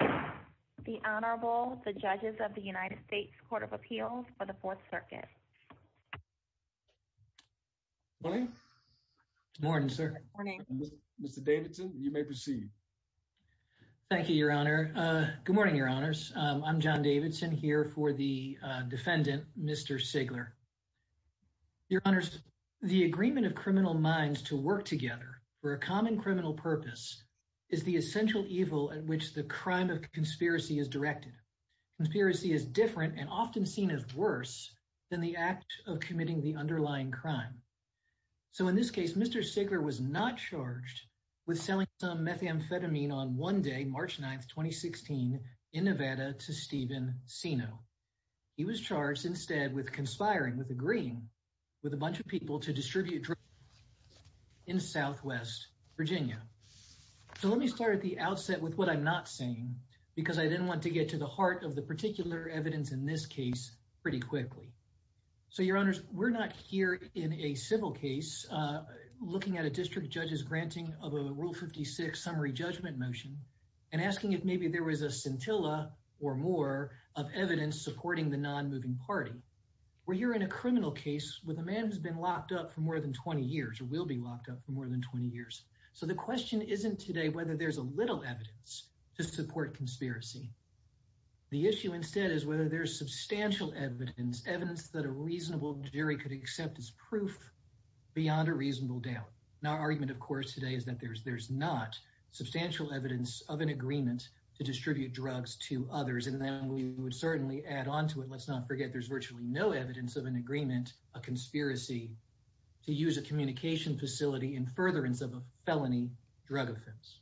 The Honorable, the judges of the United States Court of Appeals for the Fourth Circuit. Morning, sir. Morning. Mr. Davidson, you may proceed. Thank you, Your Honor. Good morning, Your Honors. I'm John Davidson here for the defendant, Mr. Seigler. Your Honors, the agreement of criminal minds to work together for a common criminal purpose is the essential evil at which the crime of conspiracy is directed. Conspiracy is different and often seen as worse than the act of committing the underlying crime. So in this case, Mr. Seigler was not charged with selling some methamphetamine on one day, March 9, 2016, in Nevada to Steven Sino. He was charged instead with conspiring, with agreeing with a bunch of people to distribute drugs in Southwest Virginia. So let me start at the outset with what I'm not saying because I didn't want to get to the heart of the particular evidence in this case pretty quickly. So, Your Honors, we're not here in a civil case looking at a district judge's granting of a Rule 56 summary judgment motion and asking if maybe there was a scintilla or more of evidence supporting the non-moving party. We're here in a criminal case with a man who's been locked up for more than 20 years or will be locked up for more than 20 years. So the question isn't today whether there's a little evidence to support conspiracy. The issue instead is whether there's substantial evidence, evidence that a reasonable jury could accept as proof beyond a reasonable doubt. Our argument, of course, today is that there's not substantial evidence of an agreement to distribute drugs to others. And then we would certainly add on to it. Let's not forget there's virtually no evidence of an agreement, a conspiracy to use a communication facility in furtherance of a felony drug offense.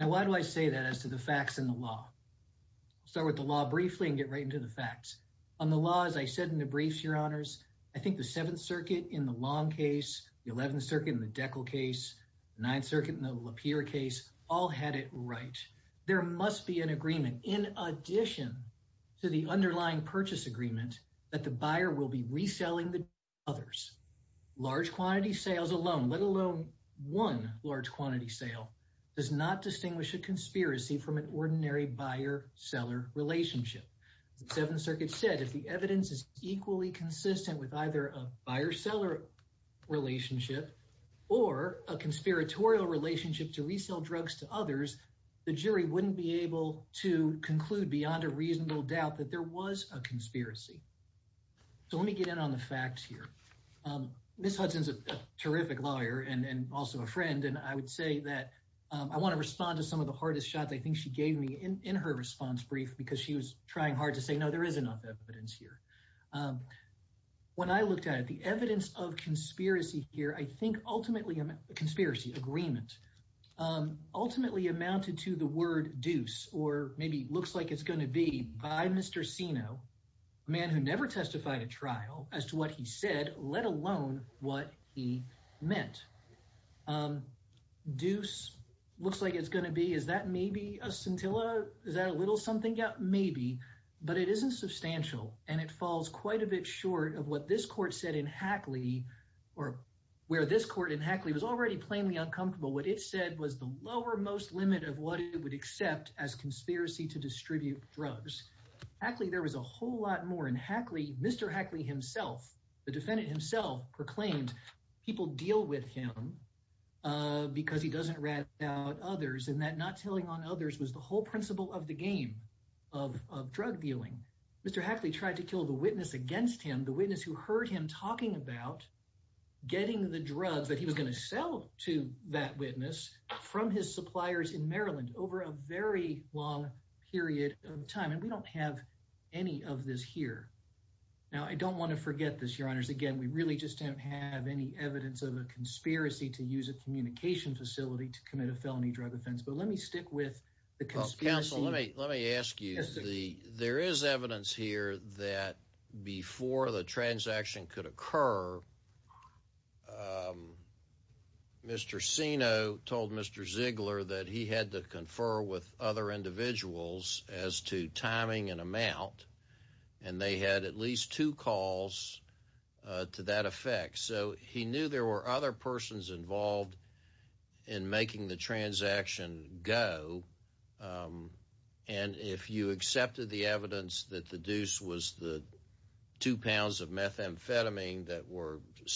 Now, why do I say that as to the facts in the law? I'll start with the law briefly and get right into the facts. On the law, as I said in the briefs, Your Honors, I think the Seventh Circuit in the Long case, the Eleventh Circuit in the Deckel case, the Ninth Circuit in the Lapeer case, all had it right. There must be an agreement in addition to the underlying purchase agreement that the buyer will be reselling the drugs to others. Large quantity sales alone, let alone one large quantity sale, does not distinguish a conspiracy from an ordinary buyer-seller relationship. The Seventh Circuit said if the evidence is equally consistent with either a buyer-seller relationship or a conspiratorial relationship to resell drugs to others, the jury wouldn't be able to conclude beyond a reasonable doubt that there was a conspiracy. So let me get in on the facts here. Ms. Hudson's a terrific lawyer and also a friend, and I would say that I want to respond to some of the hardest shots I think she gave me in her response brief because she was trying hard to say, no, there is enough evidence here. When I looked at it, the evidence of conspiracy here, I think ultimately, conspiracy agreement, ultimately amounted to the word deuce or maybe looks like it's going to be by Mr. Sino, a man who never testified at trial as to what he said, let alone what he meant. Deuce looks like it's going to be, is that maybe a scintilla? Is that a little something? Yeah, maybe, but it isn't substantial and it falls quite a bit short of what this court said in Hackley or where this court in Hackley was already plainly uncomfortable. What it said was the lower most limit of what it would accept as conspiracy to distribute drugs. Hackley, there was a whole lot more in Hackley. Mr. Hackley himself, the defendant himself, proclaimed people deal with him because he doesn't rat out others and that not telling on others was the whole principle of the game of drug dealing. Mr. Hackley tried to kill the witness against him, the witness who heard him talking about getting the drugs that he was going to sell to that suppliers in Maryland over a very long period of time. And we don't have any of this here. Now, I don't want to forget this, your honors. Again, we really just don't have any evidence of a conspiracy to use a communication facility to commit a felony drug offense, but let me stick with the conspiracy. Let me ask you, there is evidence here that before the transaction could confer with other individuals as to timing and amount, and they had at least two calls to that effect. So he knew there were other persons involved in making the transaction go. And if you accepted the evidence that the deuce was the two pounds of methamphetamine that were that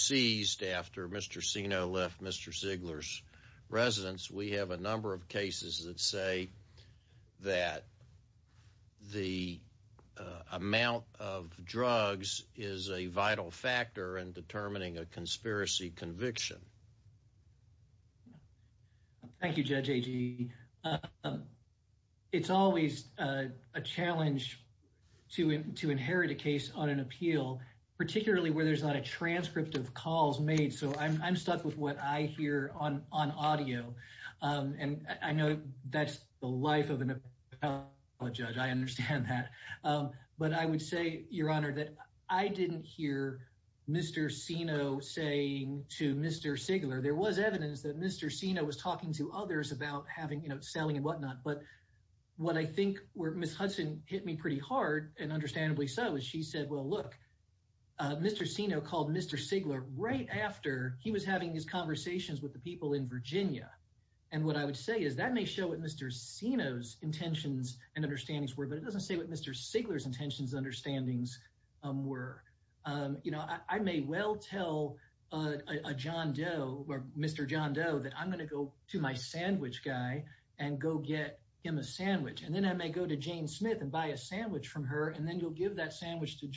say that the amount of drugs is a vital factor in determining a conspiracy conviction. Thank you, Judge Agee. It's always a challenge to inherit a case on an appeal, particularly where there's not a transcript of calls made. So I'm stuck with what I hear on audio. And I know that's the life of a judge. I understand that. But I would say, your honor, that I didn't hear Mr. Sino saying to Mr. Sigler, there was evidence that Mr. Sino was talking to others about having, you know, selling and whatnot. But what I think where Ms. Hudson hit me pretty hard, and understandably so, is she said, well, look, Mr. Sino called Mr. Sigler right after he was having these conversations with the people in Virginia. And what I would say is that may show what Mr. Sino's intentions and understandings were, but it doesn't say what Mr. Sigler's intentions and understandings were. You know, I may well tell a John Doe, or Mr. John Doe, that I'm going to go to my sandwich guy and go get him a sandwich. And then I may go to Jane Smith and buy a sandwich from her, and then you'll give that sandwich to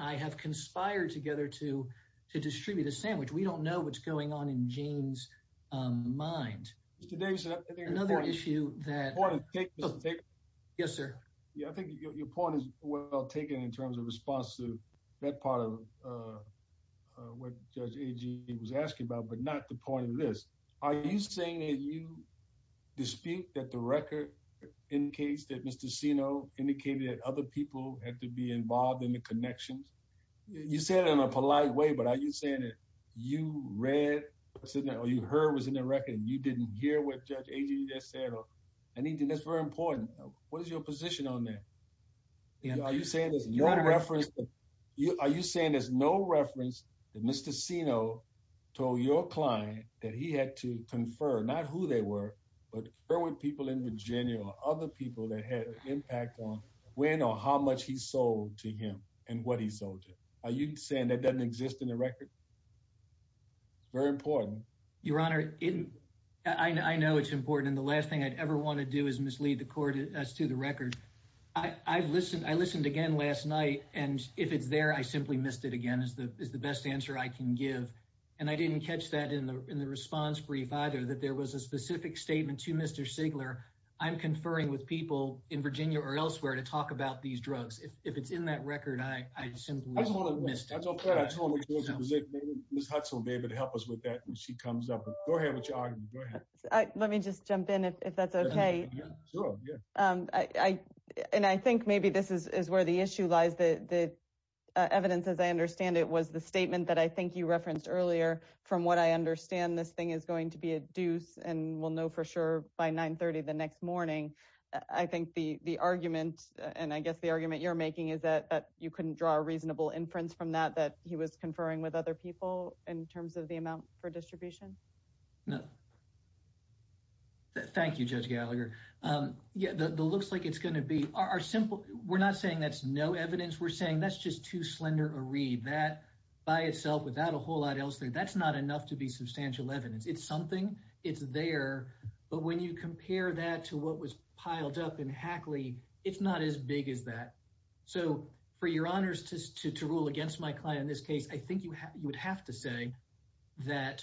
I have conspired together to distribute a sandwich. We don't know what's going on in Jane's mind. Mr. Davis, I think your point is well taken in terms of response to that part of what Judge Agee was asking about, but not the point of this. Are you saying that you dispute that the record indicates that Mr. Sino indicated that other people had to be involved in the connections? You said it in a polite way, but are you saying that you read or you heard was in the record and you didn't hear what Judge Agee just said or anything? That's very important. What is your position on that? Are you saying there's no reference that Mr. Sino told your client that he had to confer, not who they were, but where were people in Virginia or other people that had an impact on when or how much he sold to him and what he sold to? Are you saying that doesn't exist in the record? It's very important. Your Honor, I know it's important, and the last thing I'd ever want to do is mislead the court as to the record. I listened again last night, and if it's there, I simply missed it again is the best answer I can give. And I didn't catch that in the response brief either, that there was a specific statement to Mr. Sigler, I'm conferring with people in Virginia or elsewhere to talk about these drugs. If it's in that record, I simply missed it. I told Ms. Hudson, David, to help us with that when she comes up. Go ahead with your argument. Go ahead. Let me just jump in if that's okay. And I think maybe this is where the issue lies. The evidence, as I understand it, was the statement that I think you referenced earlier. From what I understand, this thing is the next morning. I think the argument, and I guess the argument you're making is that you couldn't draw a reasonable inference from that, that he was conferring with other people in terms of the amount for distribution. No. Thank you, Judge Gallagher. Yeah, it looks like it's going to be. We're not saying that's no evidence. We're saying that's just too slender a read. That by itself without a whole lot else there, that's not enough to be substantial evidence. It's there. But when you compare that to what was piled up in Hackley, it's not as big as that. So for your honors to rule against my client in this case, I think you would have to say that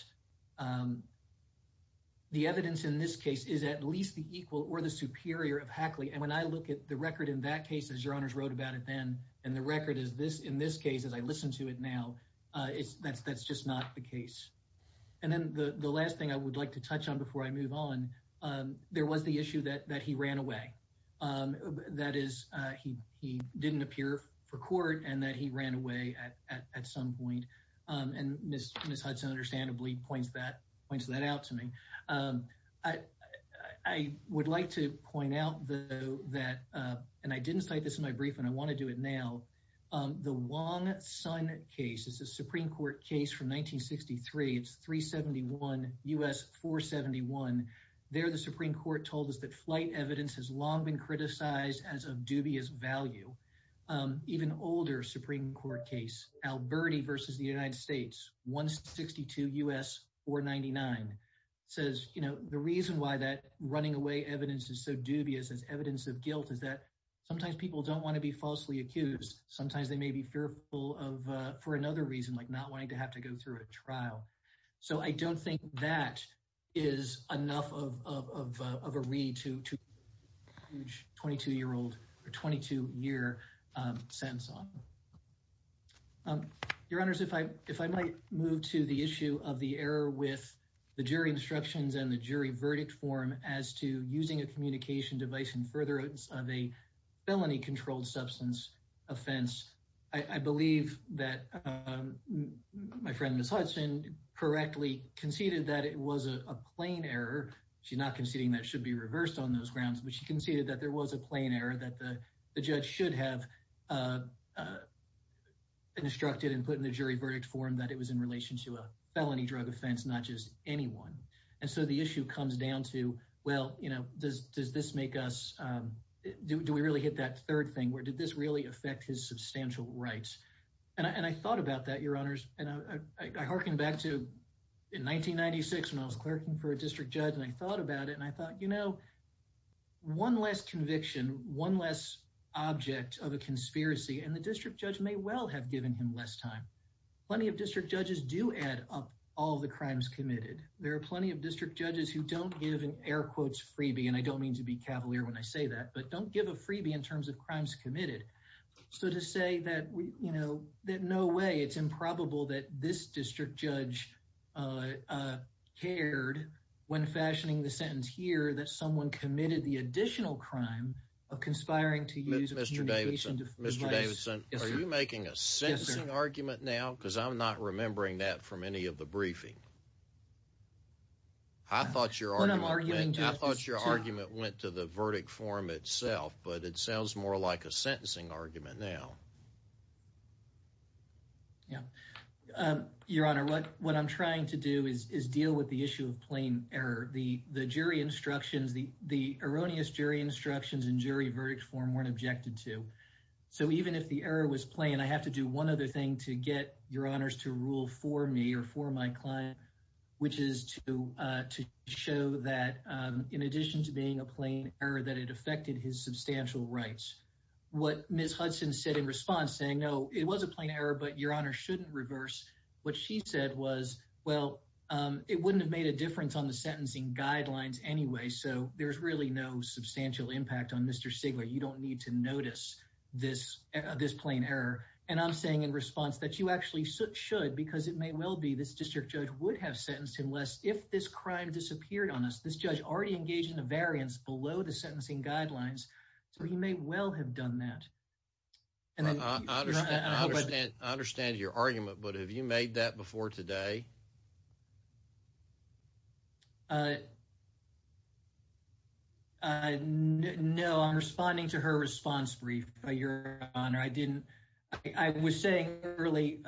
the evidence in this case is at least the equal or the superior of Hackley. And when I look at the record in that case, as your honors wrote about it then, and the record is this in this case as I listen to it now, that's just not the case. And then the last thing I would like to touch on before I move on, there was the issue that he ran away. That is, he didn't appear for court and that he ran away at some point. And Ms. Hudson understandably points that out to me. I would like to point out though that, and I didn't cite this in my brief and I want to do it now, the Wong Son case, it's a Supreme Court case from 1963. It's 371 U.S. 471. There the Supreme Court told us that flight evidence has long been criticized as of dubious value. Even older Supreme Court case, Alberti versus the United States, 162 U.S. 499, says, you know, the reason why that running away evidence is so dubious as evidence of guilt is that sometimes people don't want to be falsely accused. Sometimes they may be fearful of, for another reason, like not wanting to have to go through a trial. So I don't think that is enough of a read to huge 22-year-old or 22-year sense on. Your honors, if I might move to the issue of the error with the jury instructions and the jury felony controlled substance offense. I believe that my friend Ms. Hudson correctly conceded that it was a plain error. She's not conceding that should be reversed on those grounds, but she conceded that there was a plain error that the judge should have instructed and put in the jury verdict form that it was in relation to a felony drug offense, not just anyone. And so the issue comes down to, well, you know, does this make us, do we really hit that third thing where did this really affect his substantial rights? And I thought about that, your honors, and I harken back to in 1996 when I was clerking for a district judge and I thought about it and I thought, you know, one less conviction, one less object of a conspiracy and the district judge may well have given him less time. Plenty of district judges do add up all the crimes committed. There are plenty of district judges who don't give an air quotes freebie and I don't mean to be cavalier when I say that, but don't give a freebie in terms of crimes committed. So to say that, you know, that no way it's improbable that this district judge cared when fashioning the sentence here that someone committed the additional crime of conspiring to use Mr. Davidson. Mr. Davidson, are you making a sentencing argument now? Because I'm not remembering that from any of the briefing. I thought your argument went to the verdict form itself, but it sounds more like a sentencing argument now. Yeah, your honor, what I'm trying to do is deal with the issue of plain error. The jury instructions, the erroneous jury instructions and jury verdict form weren't objected to. So even if the error was plain, I have to do one other thing to get your honors to rule for me or my client, which is to show that in addition to being a plain error, that it affected his substantial rights. What Ms. Hudson said in response saying, no, it was a plain error, but your honor shouldn't reverse what she said was, well, it wouldn't have made a difference on the sentencing guidelines anyway. So there's really no substantial impact on Mr. Sigler. You don't need to notice this plain error. And I'm saying in response that you actually should, because it may well be this district judge would have sentenced him less if this crime disappeared on us. This judge already engaged in a variance below the sentencing guidelines, so he may well have done that. I understand your argument, but have you made that before today? Uh, no, I'm responding to her response brief, your honor. I didn't, I was saying early,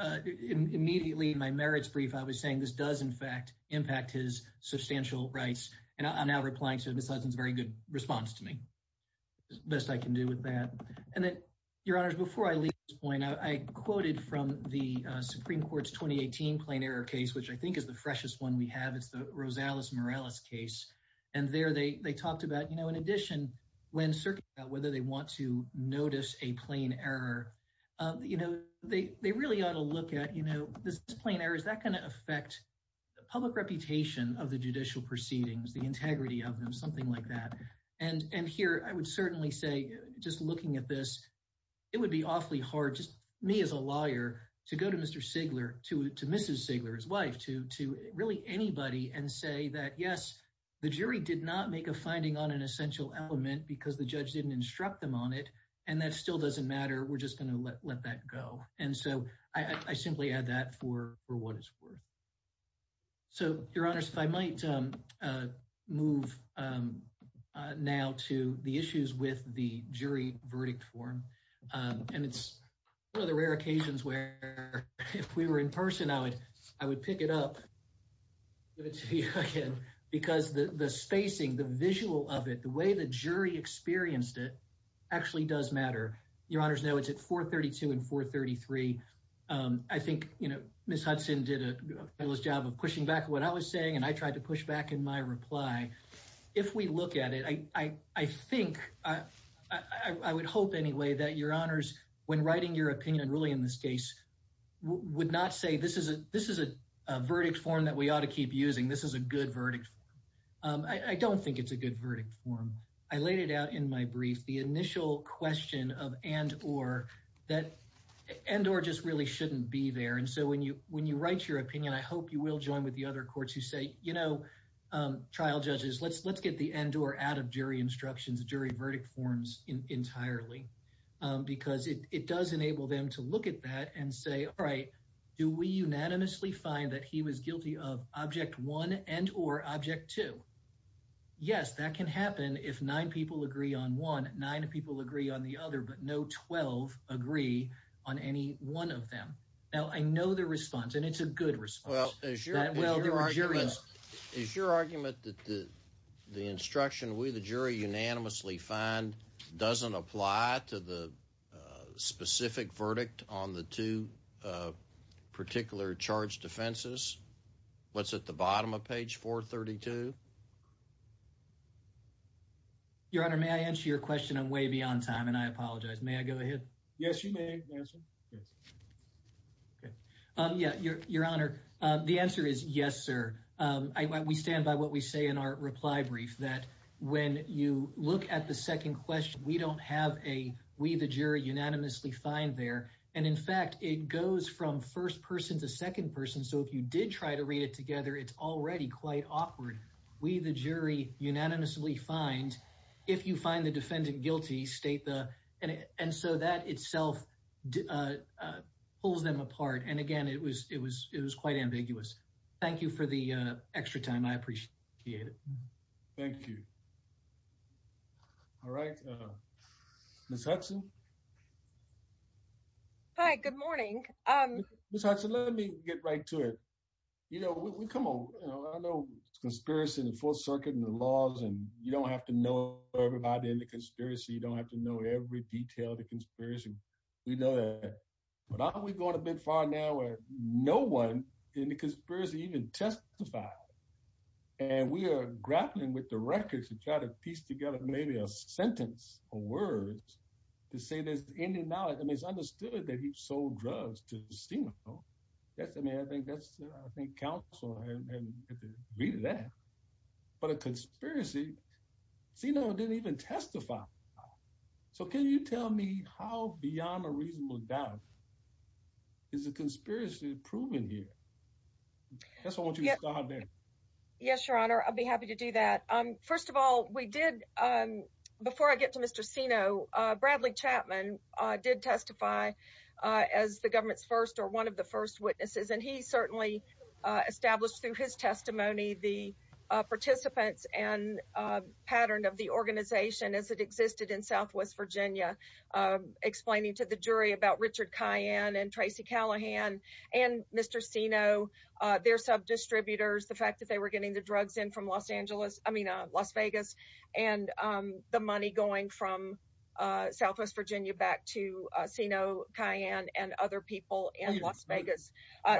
immediately in my merits brief, I was saying this does in fact impact his substantial rights. And I'm now replying to Ms. Hudson's very good response to me, best I can do with that. And then your honors, before I leave this point, I quoted from the Supreme Court's 2018 plain error which I think is the freshest one we have. It's the Rosales-Morales case. And there they talked about, you know, in addition, when circling out whether they want to notice a plain error, you know, they, they really ought to look at, you know, this plain error, is that going to affect the public reputation of the judicial proceedings, the integrity of them, something like that. And, and here I would certainly say, just looking at this, it would be awfully hard just me as a to, to really anybody and say that, yes, the jury did not make a finding on an essential element because the judge didn't instruct them on it. And that still doesn't matter. We're just going to let that go. And so I, I simply add that for, for what it's worth. So your honors, if I might move now to the issues with the jury verdict form, and it's one of the rare occasions where if we were in person, I would, I would pick it up, give it to you again, because the, the spacing, the visual of it, the way the jury experienced it actually does matter. Your honors know it's at 432 and 433. I think, you know, Ms. Hudson did a fabulous job of pushing back what I was saying, and I tried to push back in my reply. If we look at it, I, I, I think, I, I, I would hope anyway that your honors, when writing your opinion, and really in this case, would not say this is a, this is a verdict form that we ought to keep using. This is a good verdict. I don't think it's a good verdict form. I laid it out in my brief, the initial question of and or that and or just really shouldn't be there. And so when you, when you write your opinion, I hope you will join with the other courts who say, you know, trial judges, let's, let's get the end or out jury instructions, jury verdict forms entirely. Because it, it does enable them to look at that and say, all right, do we unanimously find that he was guilty of object one and or object two? Yes, that can happen if nine people agree on one, nine people agree on the other, but no 12 agree on any one of them. Now I know the response, and it's a good response. Is your argument that the, the instruction we, the jury unanimously find doesn't apply to the specific verdict on the two particular charge defenses? What's at the bottom of page 432? Your honor, may I answer your question? I'm way beyond time and I apologize. May I go ahead? Yes, you may answer. Yes. Okay. Yeah, your, your honor. The answer is yes, sir. We stand by what we say in our reply brief that when you look at the second question, we don't have a, we, the jury unanimously find there. And in fact, it goes from first person to second person. So if you did try to read it together, it's already quite awkward. We, the jury unanimously find, if you did try to read it together, it's already quite awkward. So that itself pulls them apart. And again, it was, it was, it was quite ambiguous. Thank you for the extra time. I appreciate it. Thank you. All right. Ms. Hudson. Hi, good morning. Ms. Hudson, let me get right to it. You know, we come on, you know, I know conspiracy in the fourth circuit and the laws, and you don't have to know everybody in the conspiracy. We know that, but aren't we going a bit far now where no one in the conspiracy even testified and we are grappling with the records and try to piece together maybe a sentence or words to say there's any knowledge. I mean, it's understood that he sold drugs to Sino. Yes. I mean, I think that's, I think counsel and read that, but a conspiracy Sino didn't even testify. So can you tell me how beyond a reasonable doubt is a conspiracy proven here? Yes, Your Honor. I'll be happy to do that. First of all, we did, before I get to Mr. Sino, Bradley Chapman did testify as the government's first or one of the first witnesses. And he certainly established through his testimony, the participants and pattern of the organization as it existed in Southwest Virginia, explaining to the jury about Richard Cayenne and Tracy Callahan and Mr. Sino, their sub distributors, the fact that they were getting the drugs in from Los Angeles, I mean, Las Vegas and the money going from Southwest Virginia back to Sino, Cayenne and other people in Las Vegas.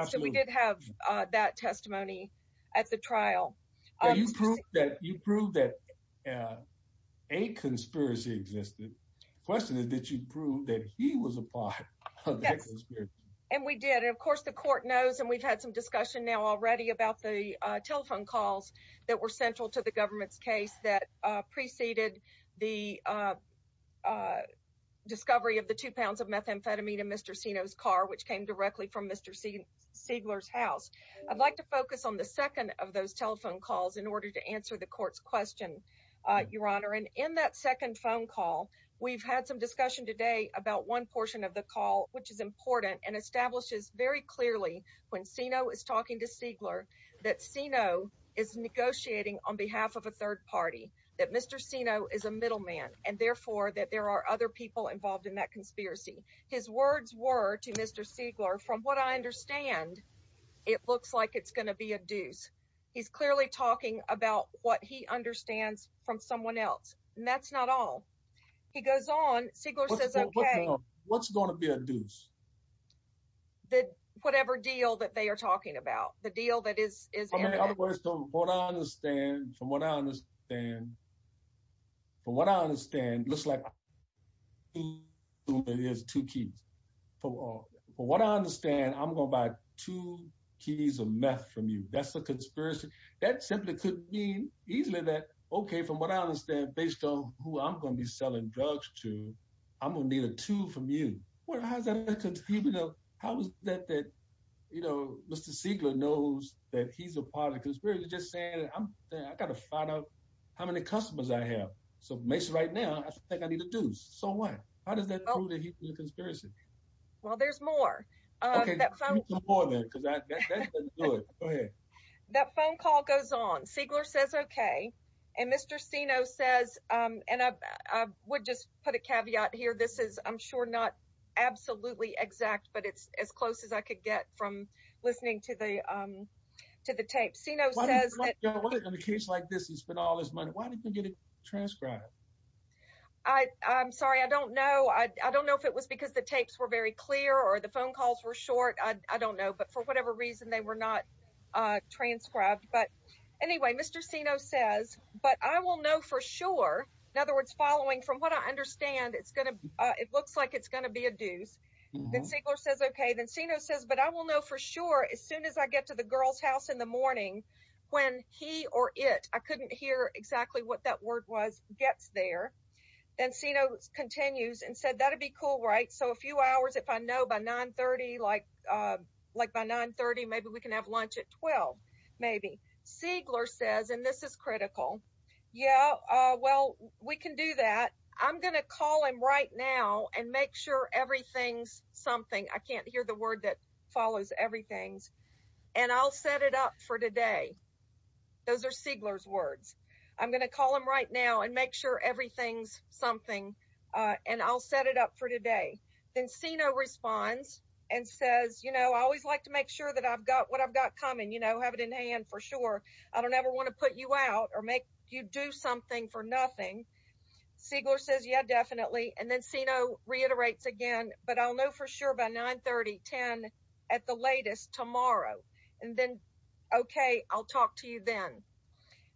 So we did have that testimony at the trial. You proved that a conspiracy existed. The question is, did you prove that he was a part and we did, and of course the court knows, and we've had some discussion now already about the telephone calls that were central to the government's case that preceded the discovery of the two pounds of methamphetamine in Mr. Sino's car, which came directly from Mr. Siegler's house. I'd like to focus on the second of those telephone calls in order to answer the court's question, Your Honor. And in that second phone call, we've had some discussion today about one portion of the call, which is important and establishes very clearly when Sino is talking to Siegler, that Sino is negotiating on behalf of a third party, that Mr. Sino is a middleman and therefore that there are other people involved in that conspiracy. His words were to Mr. Siegler, from what I understand, it looks like it's going to be a deuce. He's clearly talking about what he understands from someone else. And that's not all. He goes on, Siegler says, okay. What's going to be a deuce? The, whatever deal that they are talking about, the deal that is, what I understand from what I understand, from what I understand, it looks like there's two keys. From what I understand, I'm going to buy two keys of meth from you. That's a conspiracy. That simply could mean easily that, okay, from what I understand, based on who I'm going to be selling drugs to, I'm going to need a two from you. How is that a conspiracy? How is that that, Mr. Siegler knows that he's a part of the conspiracy, just saying, I got to find out how many customers I have. So Mason right now, I think I need a deuce. So what? How does that prove that he's a conspiracy? Well, there's more. That phone call goes on. Siegler says, okay. And Mr. Sino says, and I would just put a caveat here. This is, I'm sure not absolutely exact, but it's as close as I could get from listening to the, to the tape. Sino says, in a case like this, he spent all this money. Why didn't you get it transcribed? I, I'm sorry. I don't know. I don't know if it was because the tapes were very clear or the phone calls were short. I don't know, but for whatever reason, they were not transcribed. But anyway, Mr. Sino says, but I will know for sure. In other words, following from what I it looks like it's going to be a deuce. Then Siegler says, okay. Then Sino says, but I will know for sure. As soon as I get to the girl's house in the morning, when he or it, I couldn't hear exactly what that word was, gets there. Then Sino continues and said, that'd be cool. Right? So a few hours, if I know by nine 30, like like by nine 30, maybe we can have lunch at 12, maybe. Siegler says, and this is critical. Yeah. Well, we can do that. I'm going to call him right now and make sure everything's something. I can't hear the word that follows everything's and I'll set it up for today. Those are Siegler's words. I'm going to call him right now and make sure everything's something and I'll set it up for today. Then Sino responds and says, you know, always like to make sure that I've got what I've got coming, you know, have it in hand for sure. I don't ever want to put you out or make you do something for nothing. Siegler says, yeah, definitely. And then Sino reiterates again, but I'll know for sure by nine 30, 10 at the latest tomorrow. And then, okay. I'll talk to you then.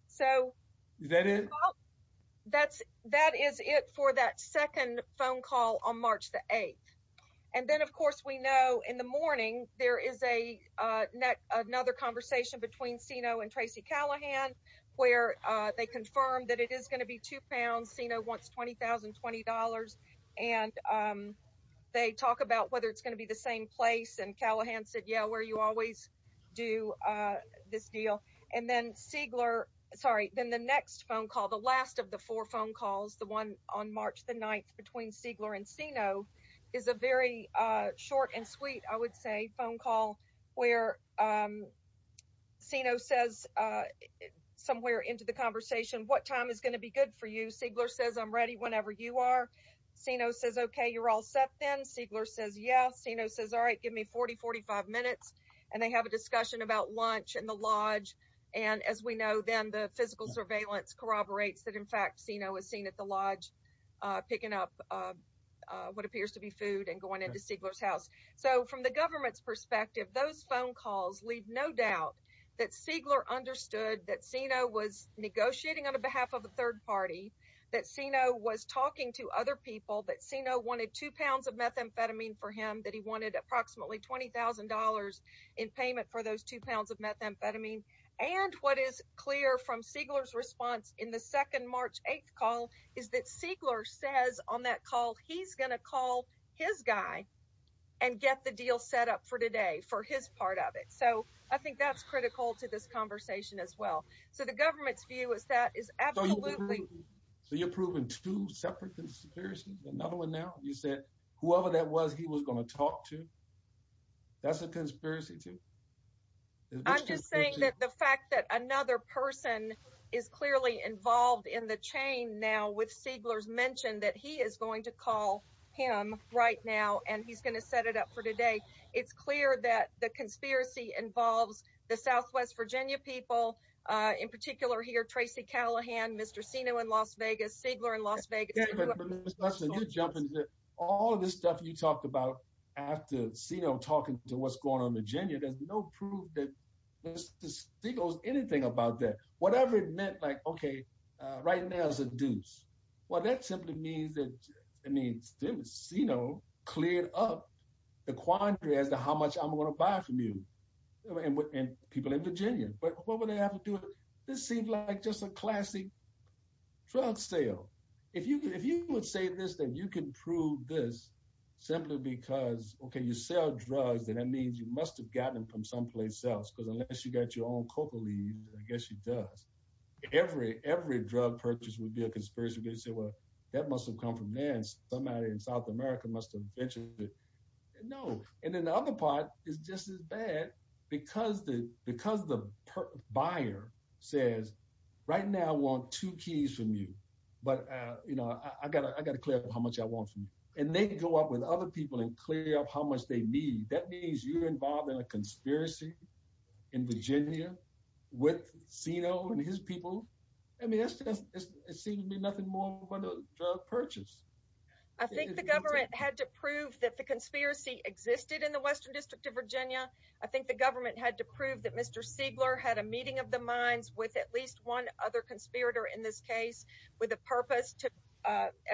So that's, that is it for that second phone call on March the 8th. And then of course we know in the morning, there is another conversation between Sino and Tracy Callahan, where they confirmed that it is going to be two pounds. Sino wants $20,020. And they talk about whether it's going to be the same place. And Callahan said, yeah, where you always do this deal. And then Siegler, sorry, then the next phone call, the last of the four phone calls, the one on March the 9th between Siegler and Sino is a very short and sweet, I would say, phone call where Sino says somewhere into the conversation, what time is going to be good for you? Siegler says, I'm ready whenever you are. Sino says, okay, you're all set then. Siegler says, yeah. Sino says, all right, give me 40, 45 minutes. And they have a discussion about lunch and the lodge. And as we know, then the physical surveillance corroborates that in fact, Sino is seen at the lodge, picking up what appears to be food and going into Siegler's house. So from the government's perspective, those phone calls leave no doubt that Siegler understood that Sino was negotiating on behalf of a third party, that Sino was talking to other people, that Sino wanted two pounds of methamphetamine for him, that he wanted approximately $20,000 in payment for those two pounds of methamphetamine. And what is clear from Siegler's response in the second March 8th call, is that Siegler says on that call, he's going to call his guy and get the deal set up for today for his part of it. So I think that's critical to this conversation as well. So the government's view is that is absolutely- So you're proving two separate conspiracies. Another one now, you said, whoever that was, he was going to talk to, that's a conspiracy too? I'm just saying that the fact that another person is clearly involved in the chain now with Siegler's mentioned that he is going to call him right now, and he's going to set it up for today. It's clear that the conspiracy involves the Southwest Virginia people, in particular here, Tracy Callahan, Mr. Sino in Las Vegas, Siegler in Las Vegas. But Mr. Hudson, you jump into it. All of this stuff you talked about after Sino talking to what's going on in Virginia, there's no proof that Mr. Siegler's anything about that. Whatever it meant, like, okay, right now is a deuce. Well, that simply means that, I mean, Sino cleared up the quandary as to how much I'm going to buy from you and people in Virginia. But what would happen to it? This seems like just a classic drug sale. If you would say this, then you can prove this simply because, okay, you sell drugs, then that means you must have gotten them from someplace else, because unless you got your own coca leaves, I guess you does. Every drug purchase would be a conspiracy. They say, well, that must have come from there and somebody in South America must have mentioned it. No. And then the other part is just as bad because the buyer says, right now I want two keys from you, but I got to clear up how much I want from you. And they go up with other people and clear up how much they need. That means you're involved in a conspiracy in Virginia with Sino and his people. I mean, it seems to be nothing more than a drug purchase. I think the government had to prove that the conspiracy existed in the Western District of Virginia. I think the government had to prove that Mr. Siegler had a meeting of the minds with at least one other conspirator in this case with a purpose to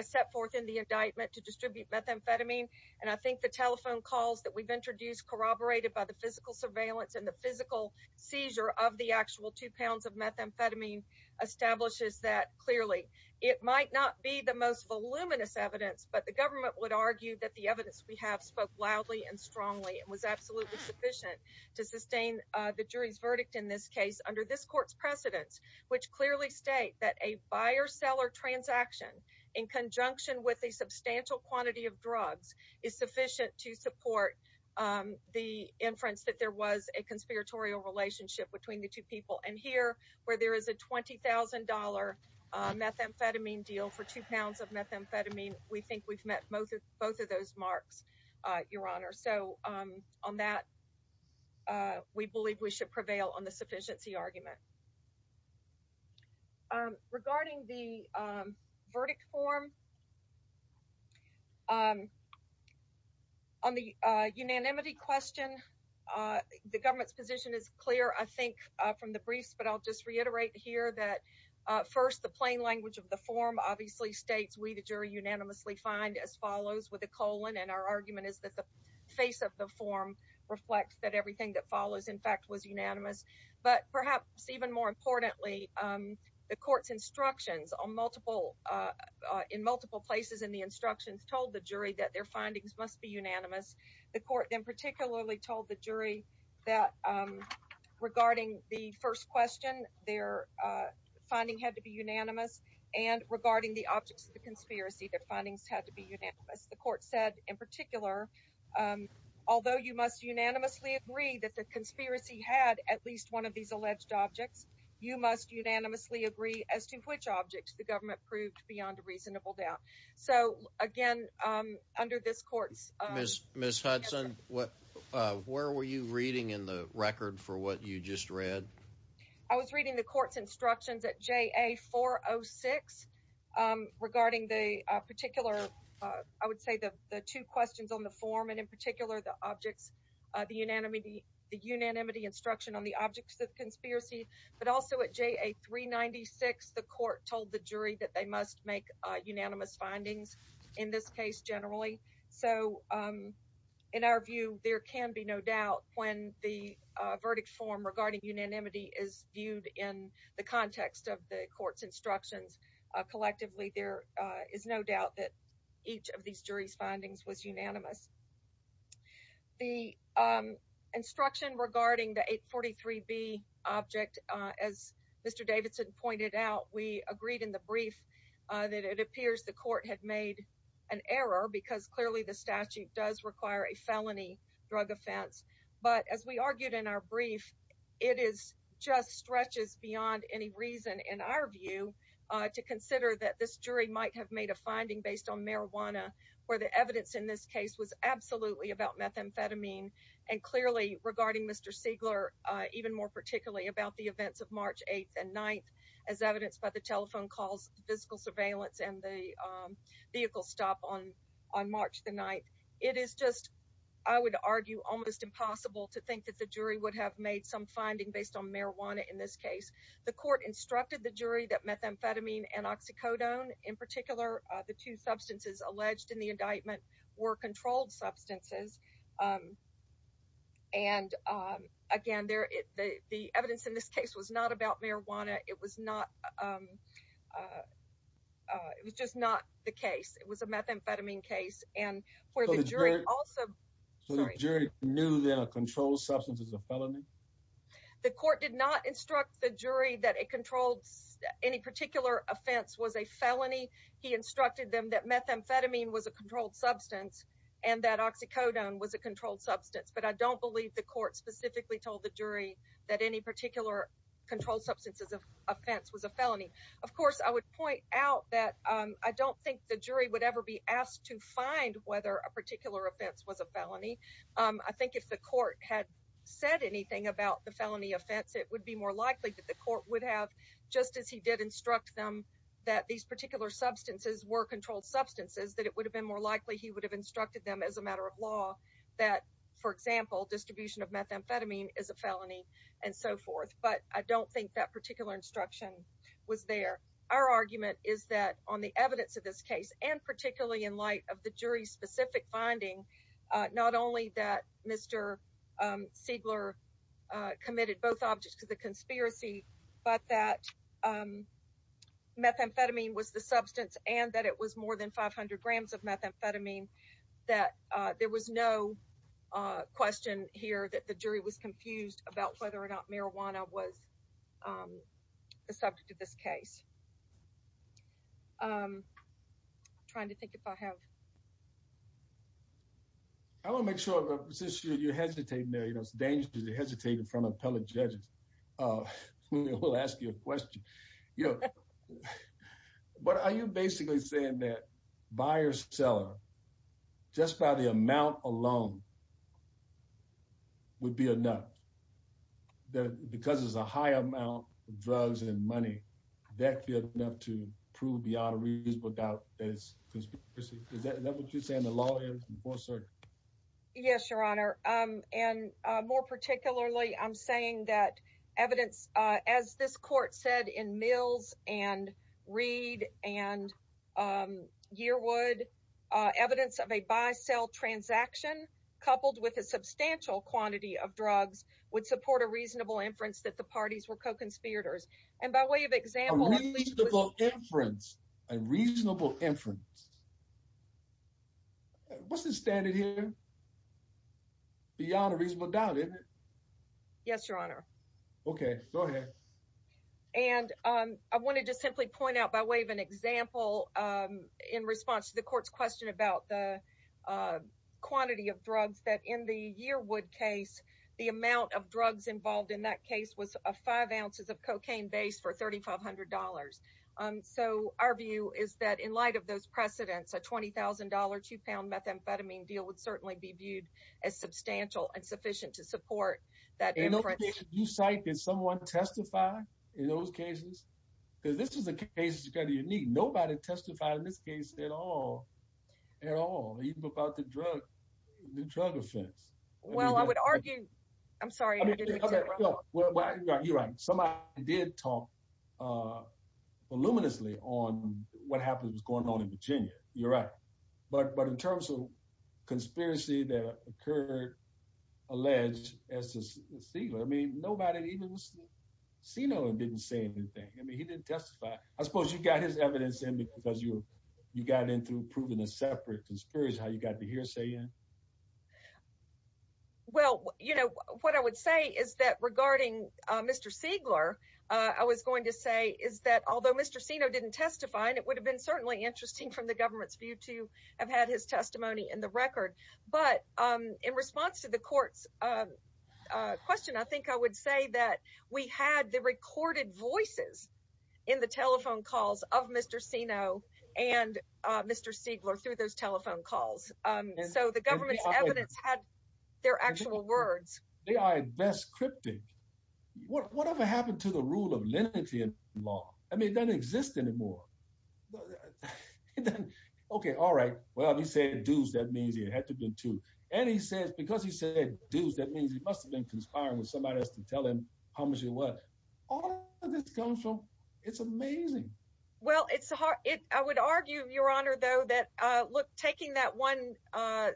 set forth in the indictment to distribute methamphetamine. And I think the telephone calls that we've introduced corroborated by the physical surveillance and the physical seizure of the actual two pounds of methamphetamine establishes that clearly. It might not be the most voluminous evidence, but the government would argue that the evidence we have spoke loudly and strongly and was absolutely sufficient to sustain the jury's verdict in this case under this court's precedence, which clearly state that a buyer-seller transaction in conjunction with a substantial quantity of drugs is sufficient to support the inference that there was a conspiratorial relationship between the two people. And here, where there is a $20,000 methamphetamine deal for two pounds of methamphetamine, we think we've met both of those marks, Your Honor. So on that, we believe we should prevail on the sufficiency argument. Regarding the verdict form, on the unanimity question, the government's position is clear. I think from the briefs, but I'll just reiterate here that first, the plain language of the form obviously states we, the jury, unanimously find as follows with a colon. And our argument is that the face of the form reflects that everything that follows, in fact, was unanimous. But perhaps even more importantly, the court's instructions on multiple, in multiple places in the instructions, told the jury that their findings must be unanimous. The court then the first question, their finding had to be unanimous. And regarding the objects of the conspiracy, their findings had to be unanimous. The court said in particular, although you must unanimously agree that the conspiracy had at least one of these alleged objects, you must unanimously agree as to which objects the government proved beyond a reasonable doubt. So again, under this court's... Ms. Hudson, where were you reading in the read? I was reading the court's instructions at JA406 regarding the particular, I would say the two questions on the form, and in particular, the objects, the unanimity instruction on the objects of the conspiracy. But also at JA396, the court told the jury that they must make unanimous findings in this case generally. So in our view, there can be no doubt when the unanimity is viewed in the context of the court's instructions. Collectively, there is no doubt that each of these jury's findings was unanimous. The instruction regarding the 843B object, as Mr. Davidson pointed out, we agreed in the brief that it appears the court had made an error because clearly the statute does require a felony drug offense. But as we argued in our brief, it is just stretches beyond any reason in our view to consider that this jury might have made a finding based on marijuana, where the evidence in this case was absolutely about methamphetamine. And clearly regarding Mr. Siegler, even more particularly about the events of March 8th and 9th, as evidenced by the telephone calls, physical surveillance, and the vehicle stop on March the 9th, it is just, I would argue, almost impossible to think that the jury would have made some finding based on marijuana in this case. The court instructed the jury that methamphetamine and oxycodone, in particular, the two substances alleged in the indictment, were controlled substances. And again, the evidence in this case was not about marijuana. It was not it was just not the case. It was a methamphetamine case. And where the jury also knew that a controlled substance is a felony? The court did not instruct the jury that a controlled any particular offense was a felony. He instructed them that methamphetamine was a controlled substance and that oxycodone was a controlled substance. But I don't believe the court specifically told the jury that any particular controlled substances of offense was a felony. Of course, I would point out that I don't think the jury would ever be asked to find whether a particular offense was a felony. I think if the court had said anything about the felony offense, it would be more likely that the court would have, just as he did instruct them that these particular substances were controlled substances, that it would have been more likely he would have instructed them as a matter of law that, for example, distribution of methamphetamine is a felony and so forth. But I don't think that particular instruction was there. Our argument is that on the evidence of this case, and particularly in light of the jury's specific finding, not only that Mr. Siegler committed both objects to the conspiracy, but that methamphetamine was the substance and that it was more than 500 grams of methamphetamine, that there was no question here that the jury was confused about whether or not marijuana was the subject of this case. I'm trying to think if I have... I want to make sure, since you're hesitating there, you know, it's dangerous to hesitate in front of appellate judges. We'll ask you a question. You know, but are you basically saying that buyer-seller, just by the amount alone, would be enough? That because there's a high amount of drugs and money, that would be enough to prove Beata Reid's book out as conspiracy? Is that what you're saying the law is in full circle? Yes, Your Honor. And more particularly, I'm saying that evidence, as this court said in Mills and Reid and Yearwood, evidence of a buy-sell transaction coupled with a substantial quantity of drugs would support a reasonable inference that the parties were co-conspirators. And by way of example... A reasonable inference. A reasonable inference. What's the standard here? Beata Reid's book out, isn't it? Yes, Your Honor. Okay, go ahead. And I wanted to simply point out by way of an example in response to the court's question about the quantity of drugs that in the Yearwood case, the amount of drugs involved in that case was five ounces of cocaine base for $3,500. So our view is that in light of those precedents, a $20,000 two-pound methamphetamine deal would be viewed as substantial and sufficient to support that inference. In those cases you cite, did someone testify in those cases? Because this is a case that's kind of unique. Nobody testified in this case at all, at all, even about the drug offense. Well, I would argue... I'm sorry. You're right. Somebody did talk voluminously on what happened going on in Virginia. You're right. But in terms of conspiracy that occurred, alleged as to Siegler, I mean, nobody even... Seno didn't say anything. I mean, he didn't testify. I suppose you got his evidence in because you got in through proving a separate conspiracy, how you got the hearsay in? Well, what I would say is that regarding Mr. Siegler, I was going to say is that although Mr. Seno didn't testify, and it would have been certainly interesting from the government's view to have had his testimony in the record. But in response to the court's question, I think I would say that we had the recorded voices in the telephone calls of Mr. Seno and Mr. Siegler through those telephone calls. So the government's evidence had their actual words. They are at best cryptic. Whatever happened to the rule of lineage in law? I mean, it doesn't exist anymore. Okay. All right. Well, he said deuce. That means it had to have been two. And he says, because he said deuce, that means he must have been conspiring with somebody else to tell him how much it was. All of this comes from... It's amazing. Well, I would argue, Your Honor, though, that look, taking that one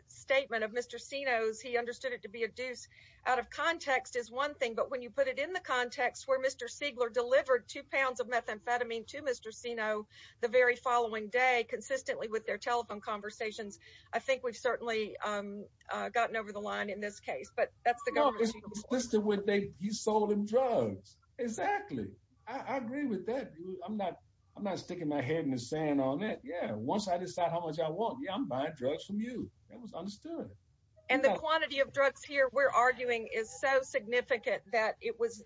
statement of Mr. Seno's, he understood it to be deuce, out of context is one thing. But when you put it in the context where Mr. Siegler delivered two pounds of methamphetamine to Mr. Seno the very following day, consistently with their telephone conversations, I think we've certainly gotten over the line in this case. But that's the... No, it's consistent with you sold him drugs. Exactly. I agree with that. I'm not sticking my head in the sand on that. Yeah. Once I decide how much I want, yeah, I'm buying drugs from you. That was understood. And the quantity of drugs here, we're arguing, is so significant that it was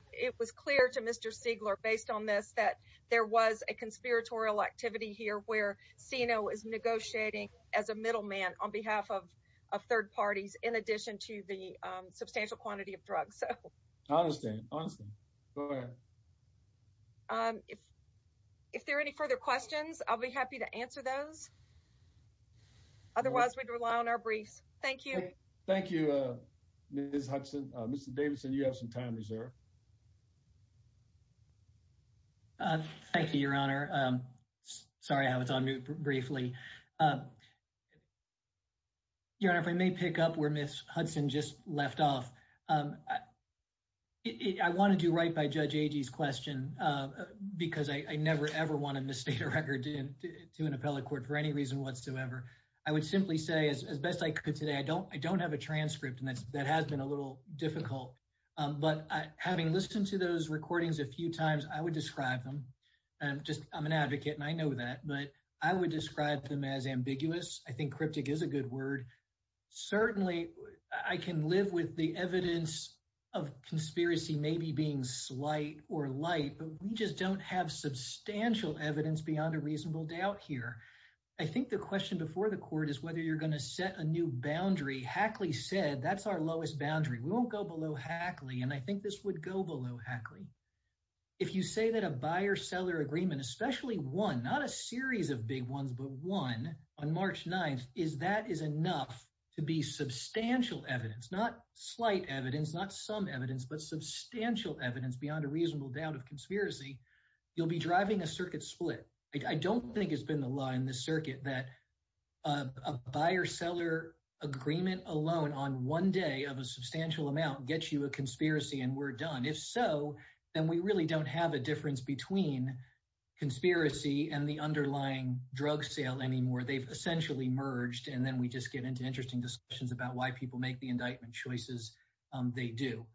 clear to Mr. Siegler, based on this, that there was a conspiratorial activity here where Seno is negotiating as a middleman on behalf of third parties in addition to the substantial quantity of drugs. So... Honestly, honestly. Go ahead. If there are any further questions, I'll be happy to answer those. Otherwise, we'd rely on our briefs. Thank you. Okay. Thank you, Ms. Hudson. Mr. Davidson, you have some time reserved. Thank you, Your Honor. Sorry, I was on mute briefly. Your Honor, if I may pick up where Ms. Hudson just left off. I wanted to write by Judge Agee's because I never, ever want to misstate a record to an appellate court for any reason whatsoever. I would simply say, as best I could today, I don't have a transcript and that has been a little difficult. But having listened to those recordings a few times, I would describe them. I'm an advocate and I know that, but I would describe them as ambiguous. I think cryptic is a good word. Certainly, I can live with the evidence of conspiracy maybe being slight or light, but we just don't have substantial evidence beyond a reasonable doubt here. I think the question before the court is whether you're going to set a new boundary. Hackley said, that's our lowest boundary. We won't go below Hackley. And I think this would go below Hackley. If you say that a buyer-seller agreement, especially one, not a series of big ones, but one on March 9th, is that is enough to be substantial evidence, not slight evidence, not some evidence, but substantial evidence beyond a reasonable doubt of conspiracy, you'll be driving a circuit split. I don't think it's been the law in the circuit that a buyer-seller agreement alone on one day of a substantial amount gets you a conspiracy and we're done. If so, then we really don't have a difference between conspiracy and the underlying drug sale anymore. They've essentially merged and then we just get into interesting discussions about why people make the indictment choices they do.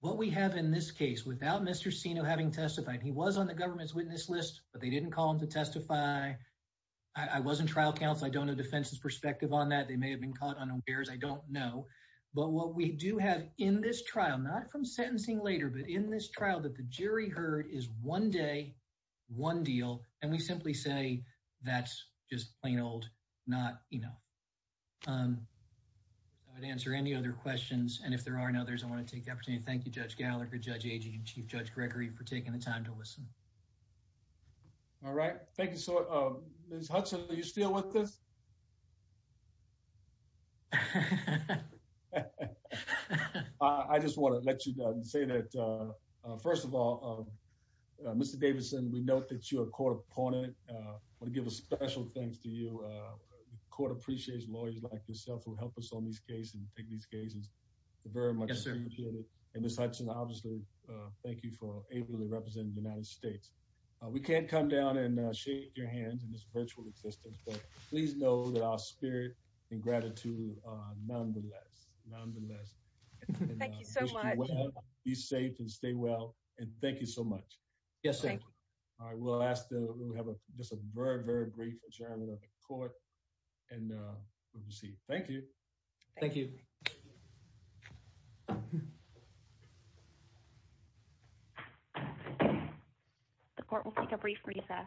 What we have in this case, without Mr. Sino having testified, he was on the government's witness list, but they didn't call him to testify. I wasn't trial counsel. I don't know defense's perspective on that. They may have been caught unawares. I don't know. But what we do have in this trial, not from sentencing later, but in this trial that the jury heard is one day, one deal, and we simply say, that's just plain old not, you know. I would answer any other questions and if there aren't others, I want to take the opportunity to thank you, Judge Gallagher, Judge Agee, and Chief Judge Gregory for taking the time to listen. All right. Thank you. So, Ms. Hudson, are you still with us? I just want to let you know and say that, first of all, Mr. Davidson, we note that you're a proponent. I want to give a special thanks to you. The court appreciates lawyers like yourself who help us on these cases and take these cases very much. And Ms. Hudson, obviously, thank you for ably representing the United States. We can't come down and shake your hands in this virtual existence, but please know that our spirit and gratitude are nonetheless. Thank you so much. Be safe and stay well and thank you so much. Yes, sir. All right. We'll ask that we have a just a very, very brief adjournment of the court and we'll proceed. Thank you. Thank you. The court will take a brief recess.